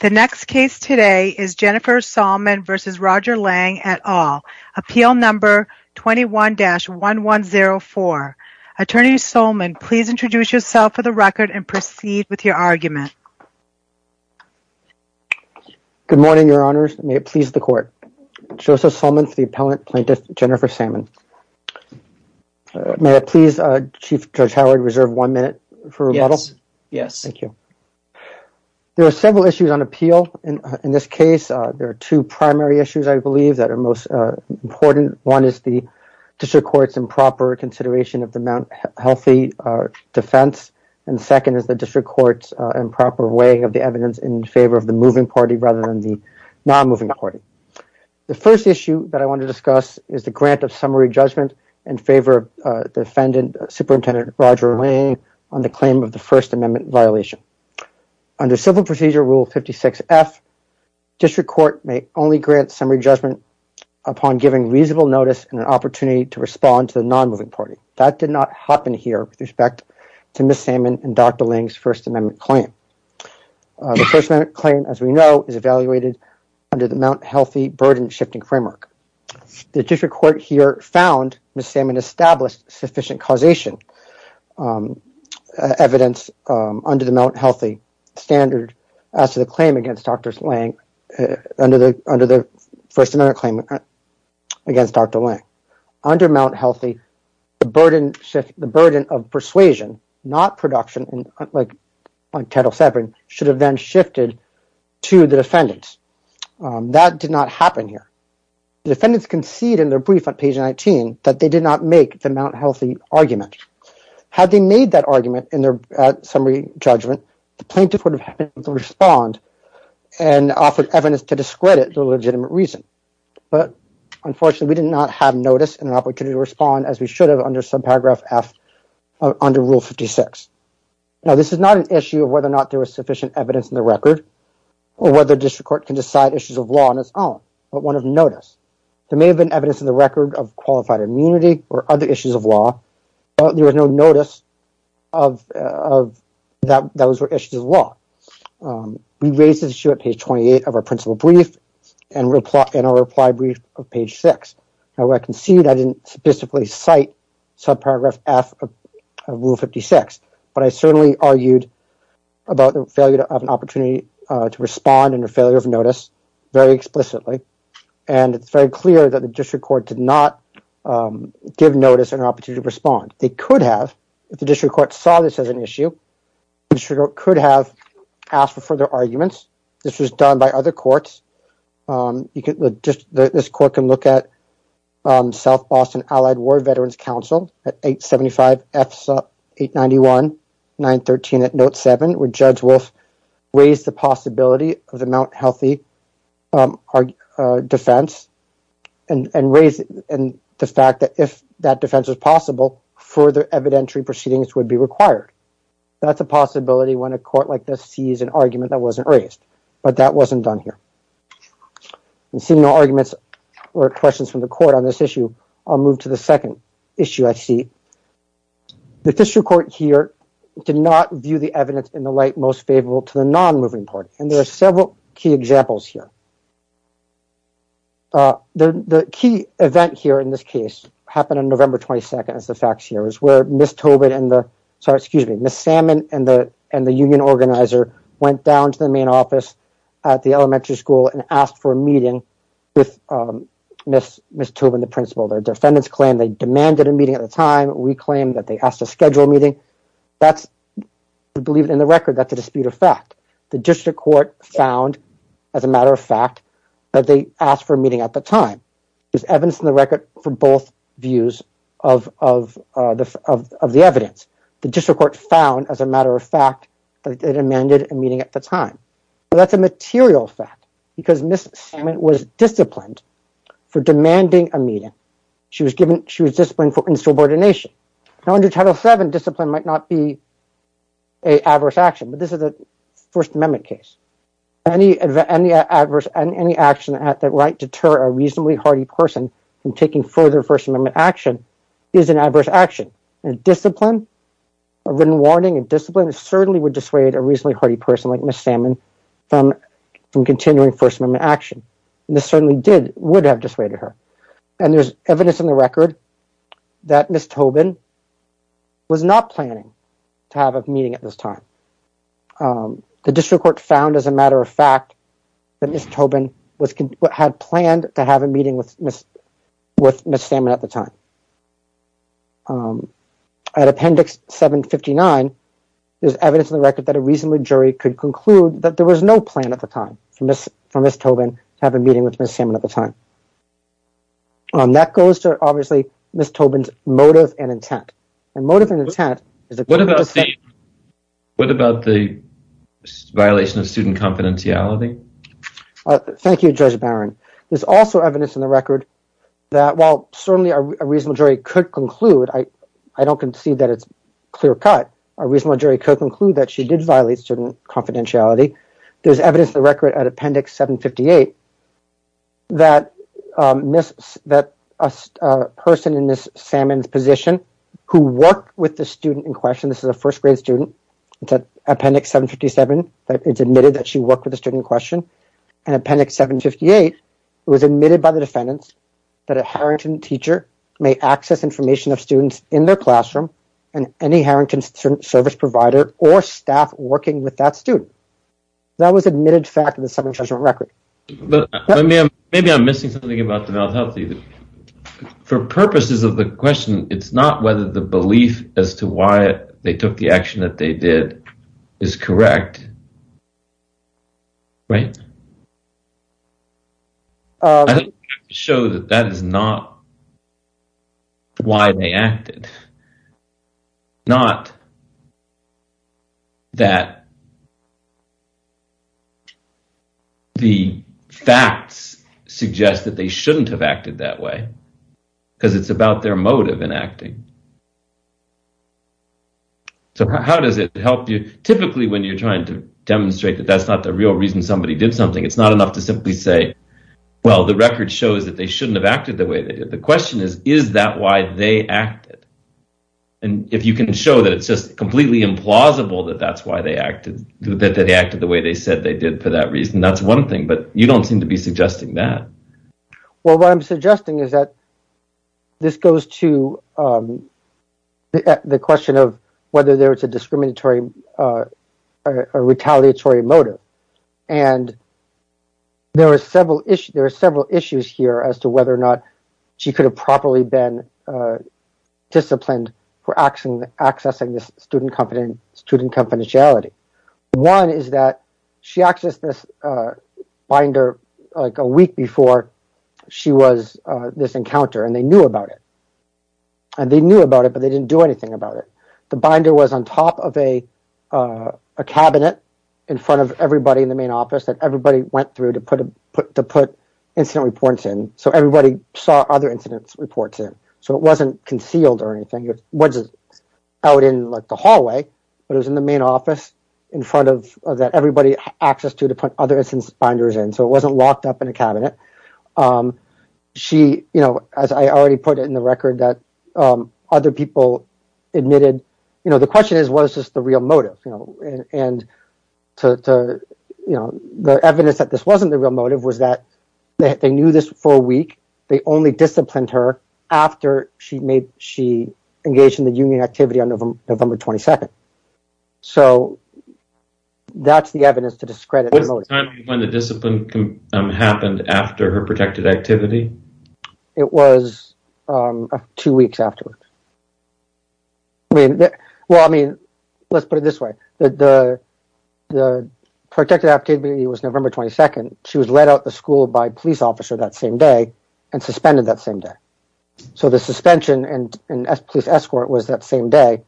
The next case today is Jennifer Salmon v. Roger Lang et al., Appeal No. 21-1104. Attorney Salmon, please introduce yourself for the record and proceed with your argument. Good morning, Your Honors. May it please the Court. Joseph Salmon for the appellant, Plaintiff Jennifer Salmon. May it please Chief Judge Howard to reserve one minute for rebuttal? Yes. Thank you. There are several issues on appeal in this case. There are two primary issues, I believe, that are most important. One is the District Court's improper consideration of the Mount Healthy defense, and the second is the District Court's improper weighing of the evidence in favor of the moving party rather than the non-moving party. The first issue that I want to discuss is the grant of summary judgment in favor of the defendant, Superintendent Roger Lang, on the claim of the First Amendment violation. Under Civil Procedure Rule 56F, District Court may only grant summary judgment upon giving reasonable notice and an opportunity to respond to the non-moving party. That did not happen here with respect to Ms. Salmon and Dr. Lang's First Amendment claim. The First Amendment claim, as we know, is evaluated under the Mount Healthy burden-shifting framework. The District Court here found Ms. Salmon established sufficient causation evidence under the Mount Healthy standard as to the claim against Dr. Lang under the First Amendment claim against Dr. Lang. Under Mount Healthy, the burden of persuasion, not production, like Title VII, should have then shifted to the defendants. That did not happen here. Defendants concede in their brief on page 19 that they did not make the Mount Healthy argument. Had they made that argument in their summary judgment, the plaintiff would have had to respond and offered evidence to discredit the legitimate reason. But, unfortunately, we did not have notice and an opportunity to respond as we should have under subparagraph F under Rule 56. Now, this is not an issue of whether or not there was sufficient evidence in the record or whether the District Court can decide issues of law on its own, but one of notice. There may have been evidence in the record of qualified immunity or other issues of law, but there was no notice that those were issues of law. We raised this issue at page 28 of our principal brief and our reply brief of page 6. Now, I concede I didn't specifically cite subparagraph F of Rule 56, but I certainly argued about the failure of an opportunity to respond and a failure of notice very explicitly, and it's very clear that the District Court did not give notice and an opportunity to respond. They could have, if the District Court saw this as an issue, the District Court could have asked for further arguments. This was done by other courts. This court can look at South Boston Allied War Veterans Council at 875F891-913 at Note 7 where Judge Wolf raised the possibility of the Mount Healthy defense and the fact that if that defense was possible, further evidentiary proceedings would be required. That's a possibility when a court like this sees an argument that wasn't raised, but that wasn't done here. Seeing no arguments or questions from the court on this issue, I'll move to the second issue I see. The District Court here did not view the evidence in the light most favorable to the non-moving court, and there are several key examples here. The key event here in this case happened on November 22nd, as the facts here, where Ms. Salmon and the union organizer went down to the main office at the elementary school and asked for a meeting with Ms. Tobin, the principal. Their defendants claimed they demanded a meeting at the time. We claim that they asked to schedule a meeting. We believe in the record that's a dispute of fact. The District Court found, as a matter of fact, that they asked for a meeting at the time. There's evidence in the record for both views of the evidence. The District Court found, as a matter of fact, that they demanded a meeting at the time. That's a material fact, because Ms. Salmon was disciplined for demanding a meeting. She was disciplined for insubordination. Under Title VII, discipline might not be an adverse action, but this is a First Amendment case. Any action that might deter a reasonably hardy person from taking further First Amendment action is an adverse action. Discipline, a written warning of discipline, certainly would dissuade a reasonably hardy person like Ms. Salmon from continuing First Amendment action. This certainly would have dissuaded her. There's evidence in the record that Ms. Tobin was not planning to have a meeting at this time. The District Court found, as a matter of fact, that Ms. Tobin had planned to have a meeting with Ms. Salmon at the time. At Appendix 759, there's evidence in the record that a reasonable jury could conclude that there was no plan at the time for Ms. Tobin to have a meeting with Ms. Salmon at the time. That goes to, obviously, Ms. Tobin's motive and intent. What about the violation of student confidentiality? Thank you, Judge Barron. There's also evidence in the record that while certainly a reasonable jury could conclude, I don't concede that it's clear cut, a reasonable jury could conclude that she did violate student confidentiality. There's evidence in the record at Appendix 758 that a person in Ms. Salmon's position who worked with the student in question, this is a first grade student, it's at Appendix 757, it's admitted that she worked with the student in question, and Appendix 758, it was admitted by the defendants that a Harrington teacher may access information of students in their classroom and any Harrington service provider or staff working with that student. That was admitted fact in the Summary Judgment Record. Maybe I'm missing something about the mental health. For purposes of the question, it's not whether the belief as to why they took the action that they did is correct, right? I think you have to show that that is not why they acted. Not that the facts suggest that they shouldn't have acted that way, because it's about their motive in acting. So how does it help you? Typically, when you're trying to demonstrate that that's not the real reason somebody did something, it's not enough to simply say, well, the record shows that they shouldn't have acted the way they did. The question is, is that why they acted? And if you can show that it's just completely implausible that that's why they acted, that they acted the way they said they did for that reason, that's one thing. But you don't seem to be suggesting that. Well, what I'm suggesting is that this goes to the question of whether there is a discriminatory or retaliatory motive. And there are several issues here as to whether or not she could have properly been disciplined for accessing this student confidentiality. One is that she accessed this binder like a week before she was this encounter and they knew about it. And they knew about it, but they didn't do anything about it. The binder was on top of a cabinet in front of everybody in the main office that everybody went through to put incident reports in. So everybody saw other incidents reports in. So it wasn't concealed or anything. It was out in the hallway, but it was in the main office in front of that everybody had access to to put other incidents binders in. So it wasn't locked up in a cabinet. She, you know, as I already put it in the record, that other people admitted, you know, the question is, was this the real motive? And the evidence that this wasn't the real motive was that they knew this for a week. They only disciplined her after she made she engaged in the union activity on November 22nd. So that's the evidence to discredit when the discipline happened after her protected activity. It was two weeks afterwards. Well, I mean, let's put it this way. The protected activity was November 22nd. She was let out the school by police officer that same day and suspended that same day. So the suspension and police escort was that same day.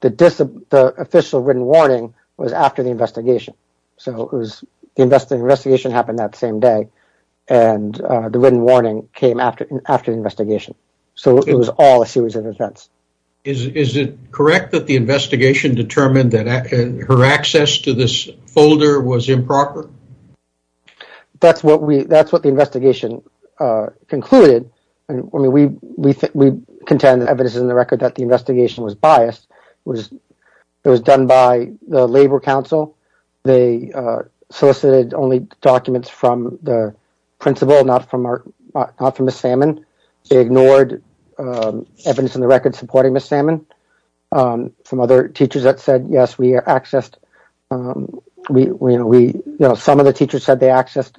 The official written warning was after the investigation. So it was the investigation happened that same day and the written warning came after the investigation. So it was all a series of events. Is it correct that the investigation determined that her access to this folder was improper? That's what we that's what the investigation concluded. I mean, we think we contend evidence in the record that the investigation was biased. It was done by the Labor Council. They solicited only documents from the principal, not from Miss Salmon. They ignored evidence in the record supporting Miss Salmon. Some other teachers that said, yes, we accessed. We know some of the teachers said they accessed.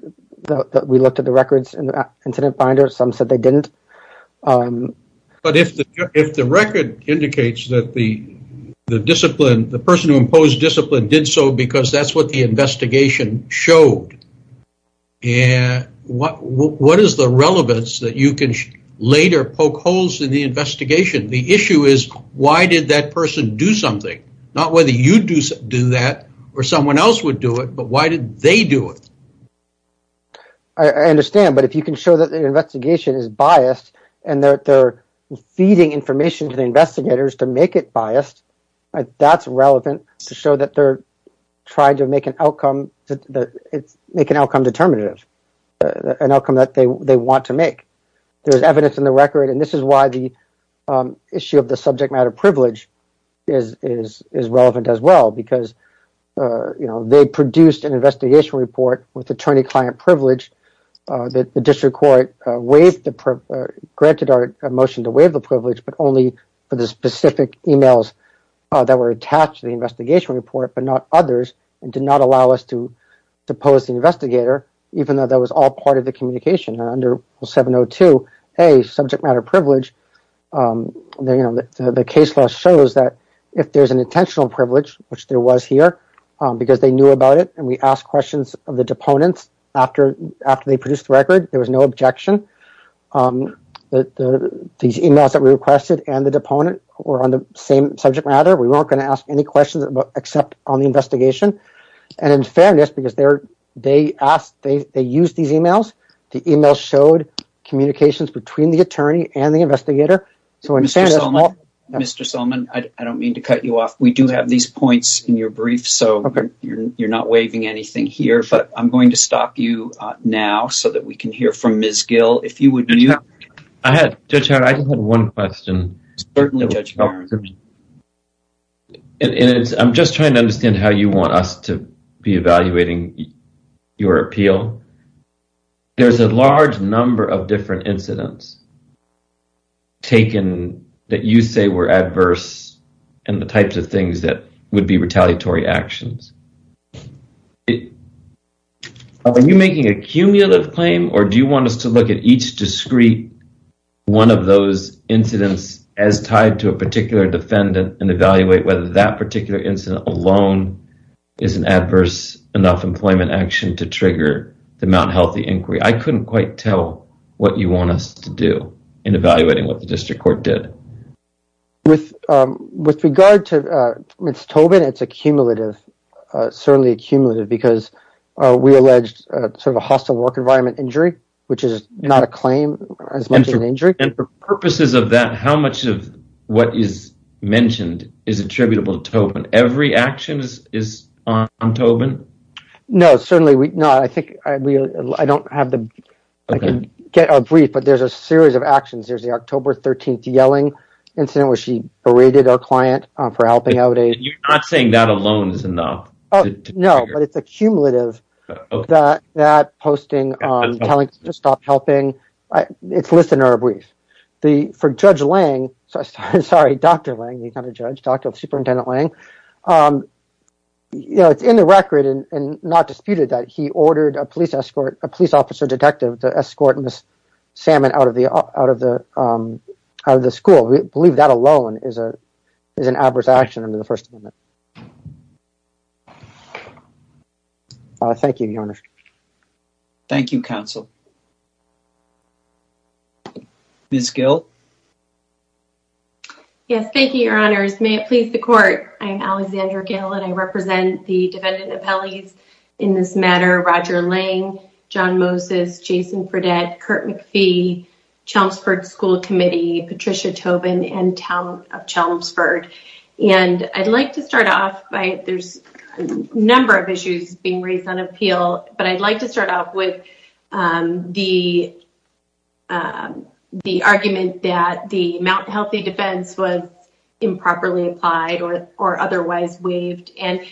We looked at the records in the incident finder. Some said they didn't. But if the record indicates that the discipline, the person who imposed discipline did so because that's what the investigation showed. And what what is the relevance that you can later poke holes in the investigation? The issue is, why did that person do something? Not whether you do that or someone else would do it. But why did they do it? I understand. But if you can show that the investigation is biased and they're feeding information to the investigators to make it biased. That's relevant to show that they're trying to make an outcome to make an outcome determinative, an outcome that they want to make. There is evidence in the record. And this is why the issue of the subject matter privilege is is is relevant as well, because, you know, they produced an investigation report with attorney client privilege. The district court waived the granted our motion to waive the privilege, but only for the specific e-mails that were attached to the investigation report, but not others. And did not allow us to to pose the investigator, even though that was all part of the communication. Under 702A subject matter privilege, the case law shows that if there's an intentional privilege, which there was here because they knew about it and we asked questions of the deponents after after they produced the record, there was no objection. These e-mails that were requested and the deponent were on the same subject matter. We weren't going to ask any questions about except on the investigation. And in fairness, because they're they asked, they used these e-mails. The e-mail showed communications between the attorney and the investigator. So, Mr. Solomon, I don't mean to cut you off. We do have these points in your brief. So you're not waiving anything here. But I'm going to stop you now so that we can hear from Ms. Gill. If you would. I had one question. Certainly. And I'm just trying to understand how you want us to be evaluating your appeal. There's a large number of different incidents. Taken that you say were adverse and the types of things that would be retaliatory actions. Are you making a cumulative claim or do you want us to look at each discrete one of those incidents as tied to a particular defendant and evaluate whether that particular incident alone is an adverse enough employment action to trigger the Mount Healthy inquiry? I couldn't quite tell what you want us to do in evaluating what the district court did. With regard to Ms. Tobin, it's a cumulative, certainly a cumulative, because we alleged sort of a hostile work environment injury, which is not a claim as much as an injury. And for purposes of that, how much of what is mentioned is attributable to Tobin? Every action is on Tobin? No, certainly not. I think I don't have the brief, but there's a series of actions. There's the October 13th yelling incident where she berated our client for helping out. You're not saying that alone is enough? Oh, no. But it's a cumulative that that posting telling us to stop helping. It's listed in our brief. For Judge Lang, sorry, Dr. Lang, he's not a judge, Dr. Superintendent Lang. You know, it's in the record and not disputed that he ordered a police escort, a police officer detective to escort Ms. Salmon out of the school. We believe that alone is an adverse action under the First Amendment. Thank you, Your Honor. Thank you, counsel. Ms. Gill. Yes, thank you, Your Honors. May it please the court. I'm Alexandra Gill, and I represent the defendant appellees in this matter. Roger Lang, John Moses, Jason Fredette, Kurt McPhee, Chelmsford School Committee, Patricia Tobin and Town of Chelmsford. And I'd like to start off by there's a number of issues being raised on appeal. But I'd like to start off with the the argument that the Mount Healthy defense was improperly applied or or otherwise waived. And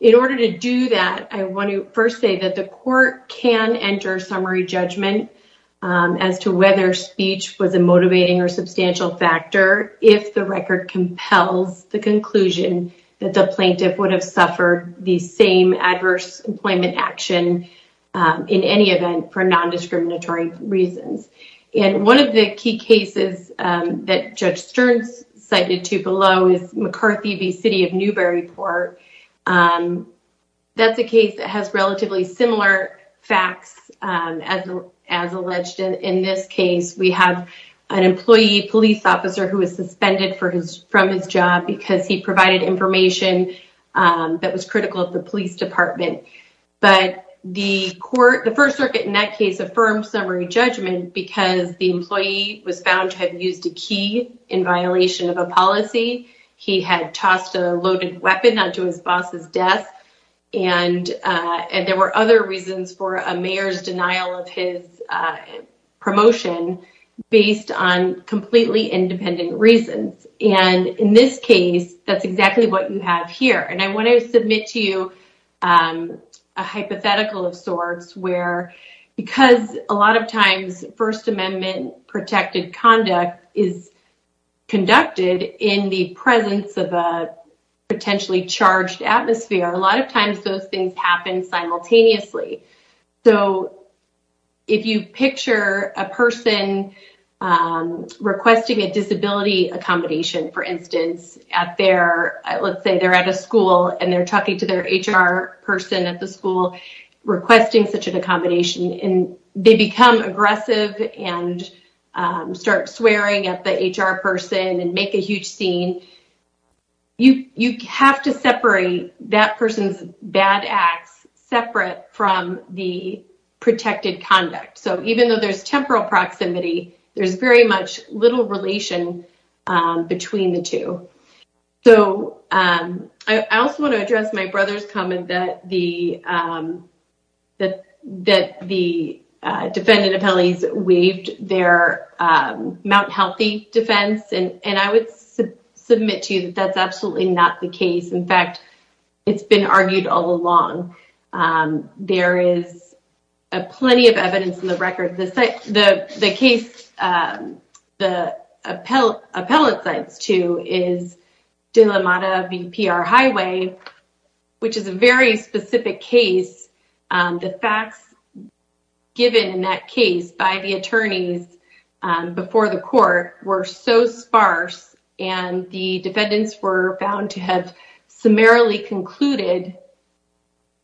in order to do that, I want to first say that the court can enter summary judgment as to whether speech was a motivating or substantial factor. If the record compels the conclusion that the plaintiff would have suffered the same adverse employment action in any event for nondiscriminatory reasons. And one of the key cases that Judge Stearns cited to below is McCarthy v. City of Newburyport. That's a case that has relatively similar facts as as alleged in this case. We have an employee police officer who was suspended for his from his job because he provided information that was critical of the police department. But the court, the First Circuit in that case, affirmed summary judgment because the employee was found to have used a key in violation of a policy. He had tossed a loaded weapon onto his boss's desk. And there were other reasons for a mayor's denial of his promotion based on completely independent reasons. And in this case, that's exactly what you have here. And I want to submit to you a hypothetical of sorts where because a lot of times First Amendment protected conduct is conducted in the presence of a potentially charged atmosphere. A lot of times those things happen simultaneously. So if you picture a person requesting a disability accommodation, for instance, at their let's say they're at a school and they're talking to their HR person at the school requesting such an accommodation and they become aggressive and start swearing at the HR person and make a huge scene. You have to separate that person's bad acts separate from the protected conduct. So even though there's temporal proximity, there's very much little relation between the two. I also want to address my brother's comment that the defendant appellees waived their Mount Healthy defense. And I would submit to you that that's absolutely not the case. In fact, it's been argued all along. There is plenty of evidence in the record. The case the appellate sides to is Dilamada v. PR Highway, which is a very specific case. The facts given in that case by the attorneys before the court were so sparse and the defendants were found to have summarily concluded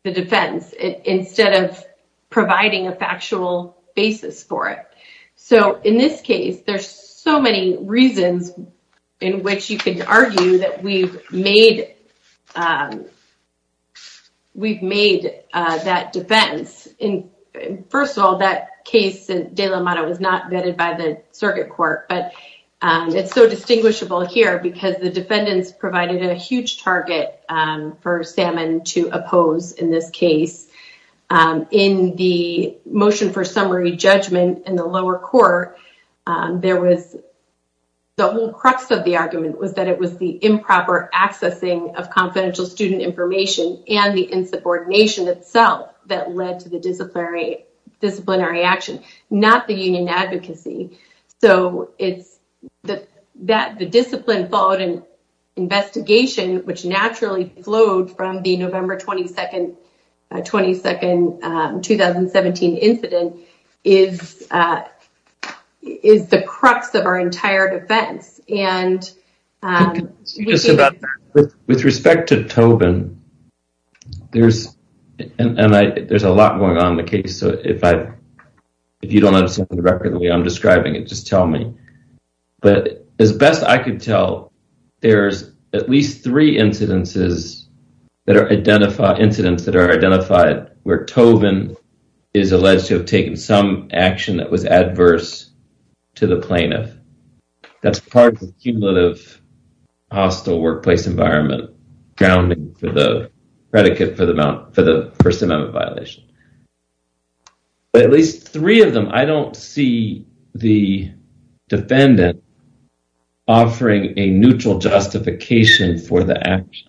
the defense instead of providing a factual basis for it. So in this case, there's so many reasons in which you can argue that we've made we've made that defense in. First of all, that case, Dilamada was not vetted by the circuit court, but it's so distinguishable here because the defendants provided a huge target for Salmon to oppose in this case. In the motion for summary judgment in the lower court, there was. The whole crux of the argument was that it was the improper accessing of confidential student information and the insubordination itself that led to the disciplinary disciplinary action, not the union advocacy. So it's that that the discipline followed in investigation, which naturally flowed from the November 22nd, 22nd, 2017 incident is is the crux of our entire defense. And with respect to Tobin, there's and there's a lot going on in the case. So if I if you don't understand the record the way I'm describing it, just tell me. But as best I could tell, there's at least three incidences that are identified incidents that are identified where Tobin is alleged to have taken some action that was adverse to the plaintiff. That's part of the cumulative hostile workplace environment, grounding for the predicate for the amount for the First Amendment violation. But at least three of them, I don't see the defendant. Offering a neutral justification for the action.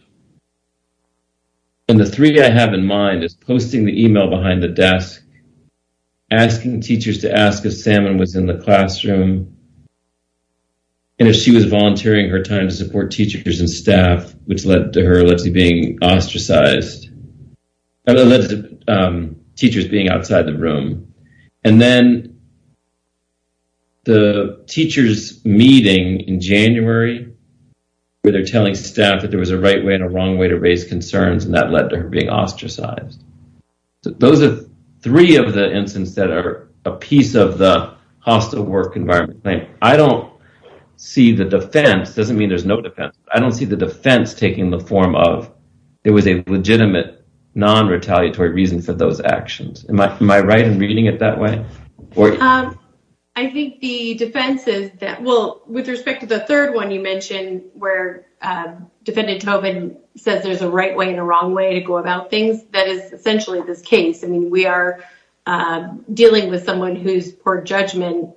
And the three I have in mind is posting the email behind the desk, asking teachers to ask if Salmon was in the classroom. And if she was volunteering her time to support teachers and staff, which led to her allegedly being ostracized. Teachers being outside the room and then. The teachers meeting in January where they're telling staff that there was a right way and a wrong way to raise concerns, and that led to her being ostracized. Those are three of the incidents that are a piece of the hostile work environment. I don't see the defense, doesn't mean there's no defense. I don't see the defense taking the form of it was a legitimate, non retaliatory reason for those actions. Am I right in reading it that way? I think the defense is that, well, with respect to the third one, you mentioned where defendant Tobin says there's a right way and a wrong way to go about things. That is essentially this case. I mean, we are dealing with someone who's poor judgment.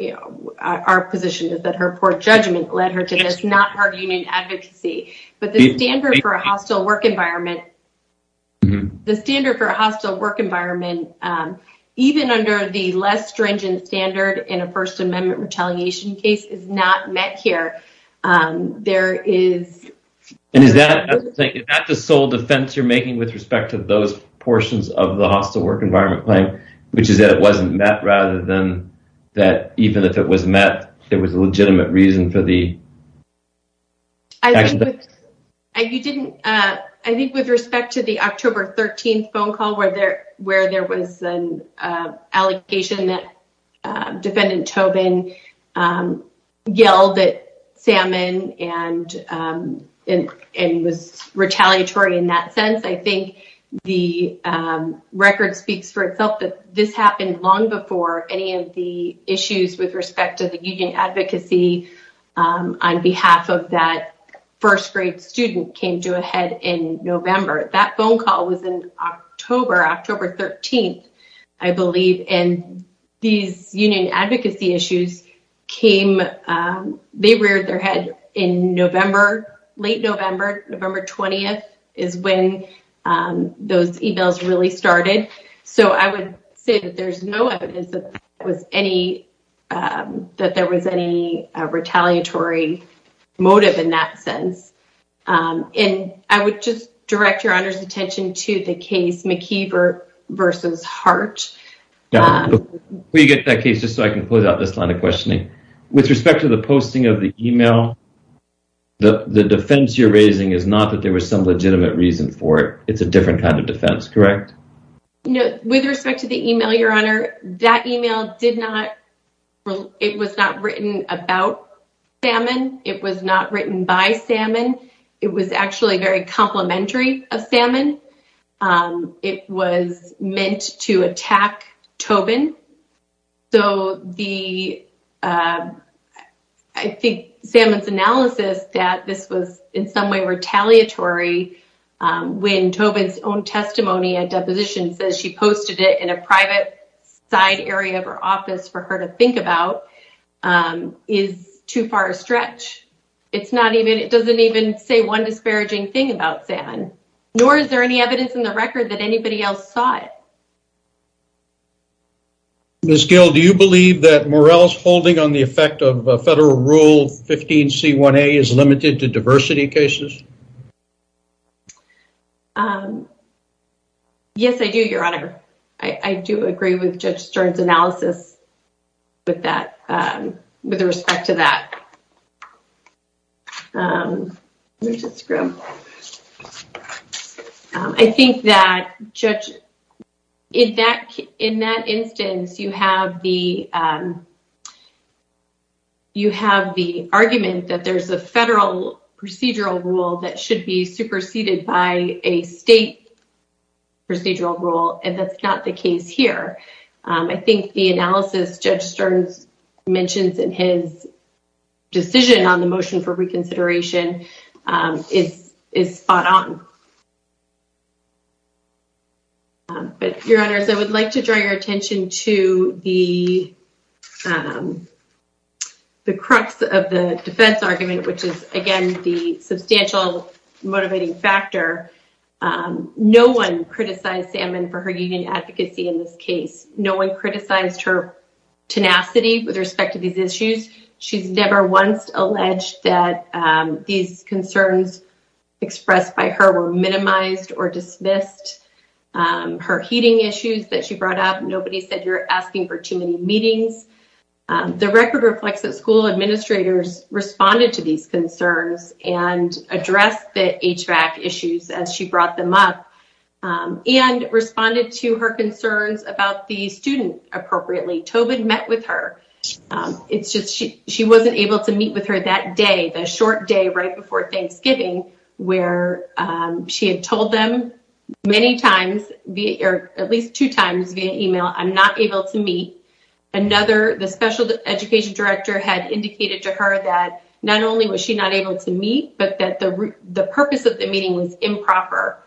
You know, our position is that her poor judgment led her to this, not her union advocacy. But the standard for a hostile work environment. The standard for a hostile work environment, even under the less stringent standard in a First Amendment retaliation case, is not met here. And is that the sole defense you're making with respect to those portions of the hostile work environment claim, which is that it wasn't met, rather than that, even if it was met, it was a legitimate reason for the. And you didn't I think with respect to the October 13th phone call where there where there was an allegation that defendant Tobin yelled at Salmon and it was retaliatory in that sense. I think the record speaks for itself that this happened long before any of the issues with respect to the union advocacy on behalf of that first grade student came to a head in November. That phone call was in October, October 13th, I believe. And these union advocacy issues came, they reared their head in November, late November. November 20th is when those e-mails really started. So I would say that there's no evidence that was any that there was any retaliatory motive in that sense. And I would just direct your honor's attention to the case McKee versus Hart. We get that case just so I can put out this line of questioning with respect to the posting of the e-mail. The defense you're raising is not that there was some legitimate reason for it. It's a different kind of defense. Correct. With respect to the e-mail, your honor, that e-mail did not it was not written about Salmon. It was not written by Salmon. It was actually very complimentary of Salmon. It was meant to attack Tobin. So the I think Salmon's analysis that this was in some way retaliatory when Tobin's own testimony at deposition says she posted it in a private side area of her office for her to think about is too far a stretch. It's not even it doesn't even say one disparaging thing about Salmon. Nor is there any evidence in the record that anybody else saw it. Ms. Gill, do you believe that Morrell's holding on the effect of federal rule 15C1A is limited to diversity cases? Yes, I do, your honor. I do agree with Judge Stern's analysis with that with respect to that. Mr. Scrum. I think that judge in that in that instance, you have the. You have the argument that there's a federal procedural rule that should be superseded by a state. Procedural rule, and that's not the case here. I think the analysis Judge Stern's mentions in his decision on the motion for reconsideration is is spot on. But your honors, I would like to draw your attention to the. The crux of the defense argument, which is, again, the substantial motivating factor. No one criticized Salmon for her union advocacy in this case. No one criticized her tenacity with respect to these issues. She's never once alleged that these concerns expressed by her were minimized or dismissed. Her heating issues that she brought up. Nobody said you're asking for too many meetings. The record reflects that school administrators responded to these concerns and address the issues as she brought them up and responded to her concerns about the student appropriately. Tobin met with her. It's just she she wasn't able to meet with her that day. The short day right before Thanksgiving, where she had told them many times, at least two times via email. I'm not able to meet another. The special education director had indicated to her that not only was she not able to meet, but that the purpose of the meeting was improper,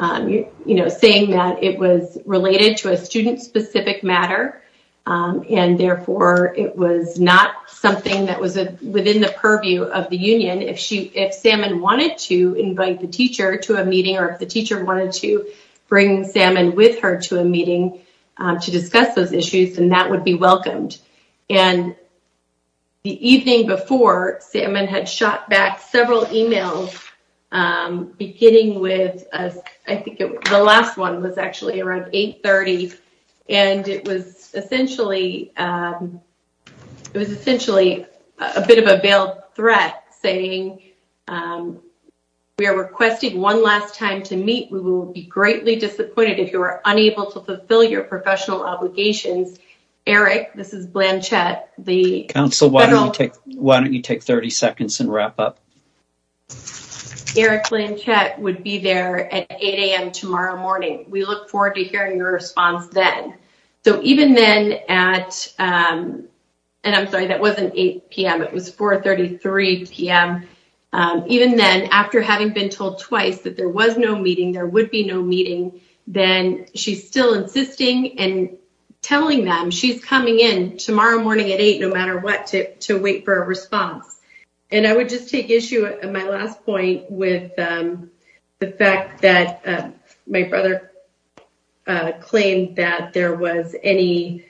saying that it was related to a student specific matter. And therefore, it was not something that was within the purview of the union. If she if Salmon wanted to invite the teacher to a meeting or if the teacher wanted to bring Salmon with her to a meeting to discuss those issues, then that would be welcomed. And. The evening before, Salmon had shot back several emails, beginning with I think the last one was actually around 830. And it was essentially it was essentially a bit of a veiled threat saying we are requesting one last time to meet. We will be greatly disappointed if you are unable to fulfill your professional obligations. Eric, this is Blanchette. Council, why don't you take 30 seconds and wrap up? Eric Blanchette would be there at 8 a.m. tomorrow morning. We look forward to hearing your response then. So, even then at and I'm sorry, that wasn't 8 p.m. It was 433 p.m. Even then, after having been told twice that there was no meeting, there would be no meeting, then she's still insisting and telling them she's coming in tomorrow morning at eight, no matter what, to wait for a response. And I would just take issue at my last point with the fact that my brother claimed that there was any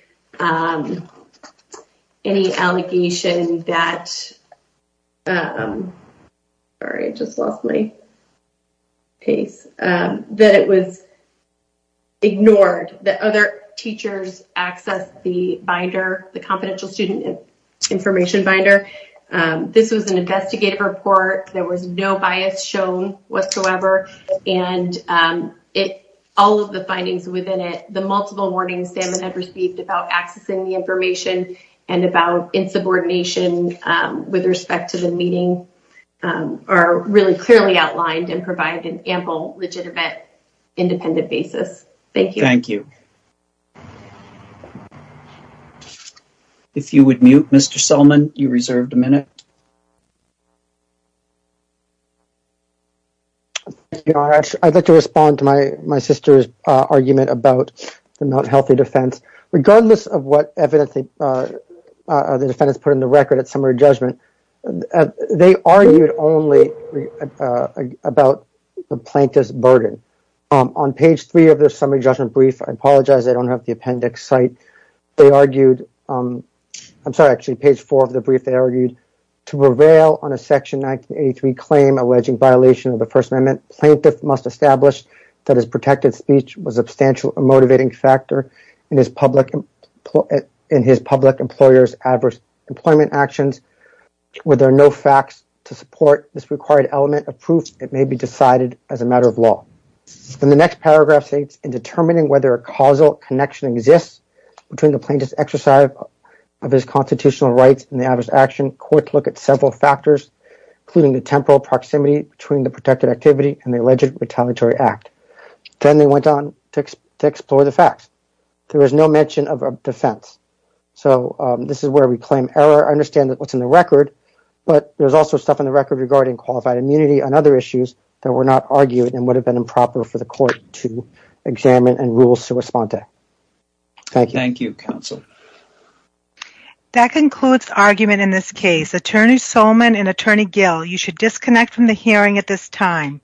any allegation that. Sorry, I just lost my. Case that it was. Ignored that other teachers access the binder, the confidential student information binder. This was an investigative report. There was no bias shown whatsoever, and it all of the findings within it. The multiple warnings salmon had received about accessing the information and about insubordination with respect to the meeting are really clearly outlined and provide an ample legitimate independent basis. Thank you. Thank you. If you would mute Mr. Selman, you reserved a minute. I'd like to respond to my my sister's argument about the not healthy defense, regardless of what evidence the defendants put in the record at summary judgment. They argued only about the plaintiff's burden on page three of the summary judgment brief. I apologize. I don't have the appendix site. They argued. I'm sorry. Actually, page four of the brief, they argued to prevail on a section 1983 claim alleging violation of the First Amendment. Plaintiff must establish that his protected speech was substantial, a motivating factor in his public in his public employers, adverse employment actions. Were there no facts to support this required element of proof? It may be decided as a matter of law. In the next paragraph states in determining whether a causal connection exists between the plaintiff's exercise of his constitutional rights and the adverse action court. Look at several factors, including the temporal proximity between the protected activity and the alleged retaliatory act. Then they went on to explore the facts. There is no mention of a defense. So this is where we claim error. I understand that what's in the record. But there's also stuff in the record regarding qualified immunity and other issues that were not argued and would have been improper for the court to examine and rules to respond to. Thank you. Thank you, counsel. That concludes argument in this case. Attorney Solman and Attorney Gill, you should disconnect from the hearing at this time.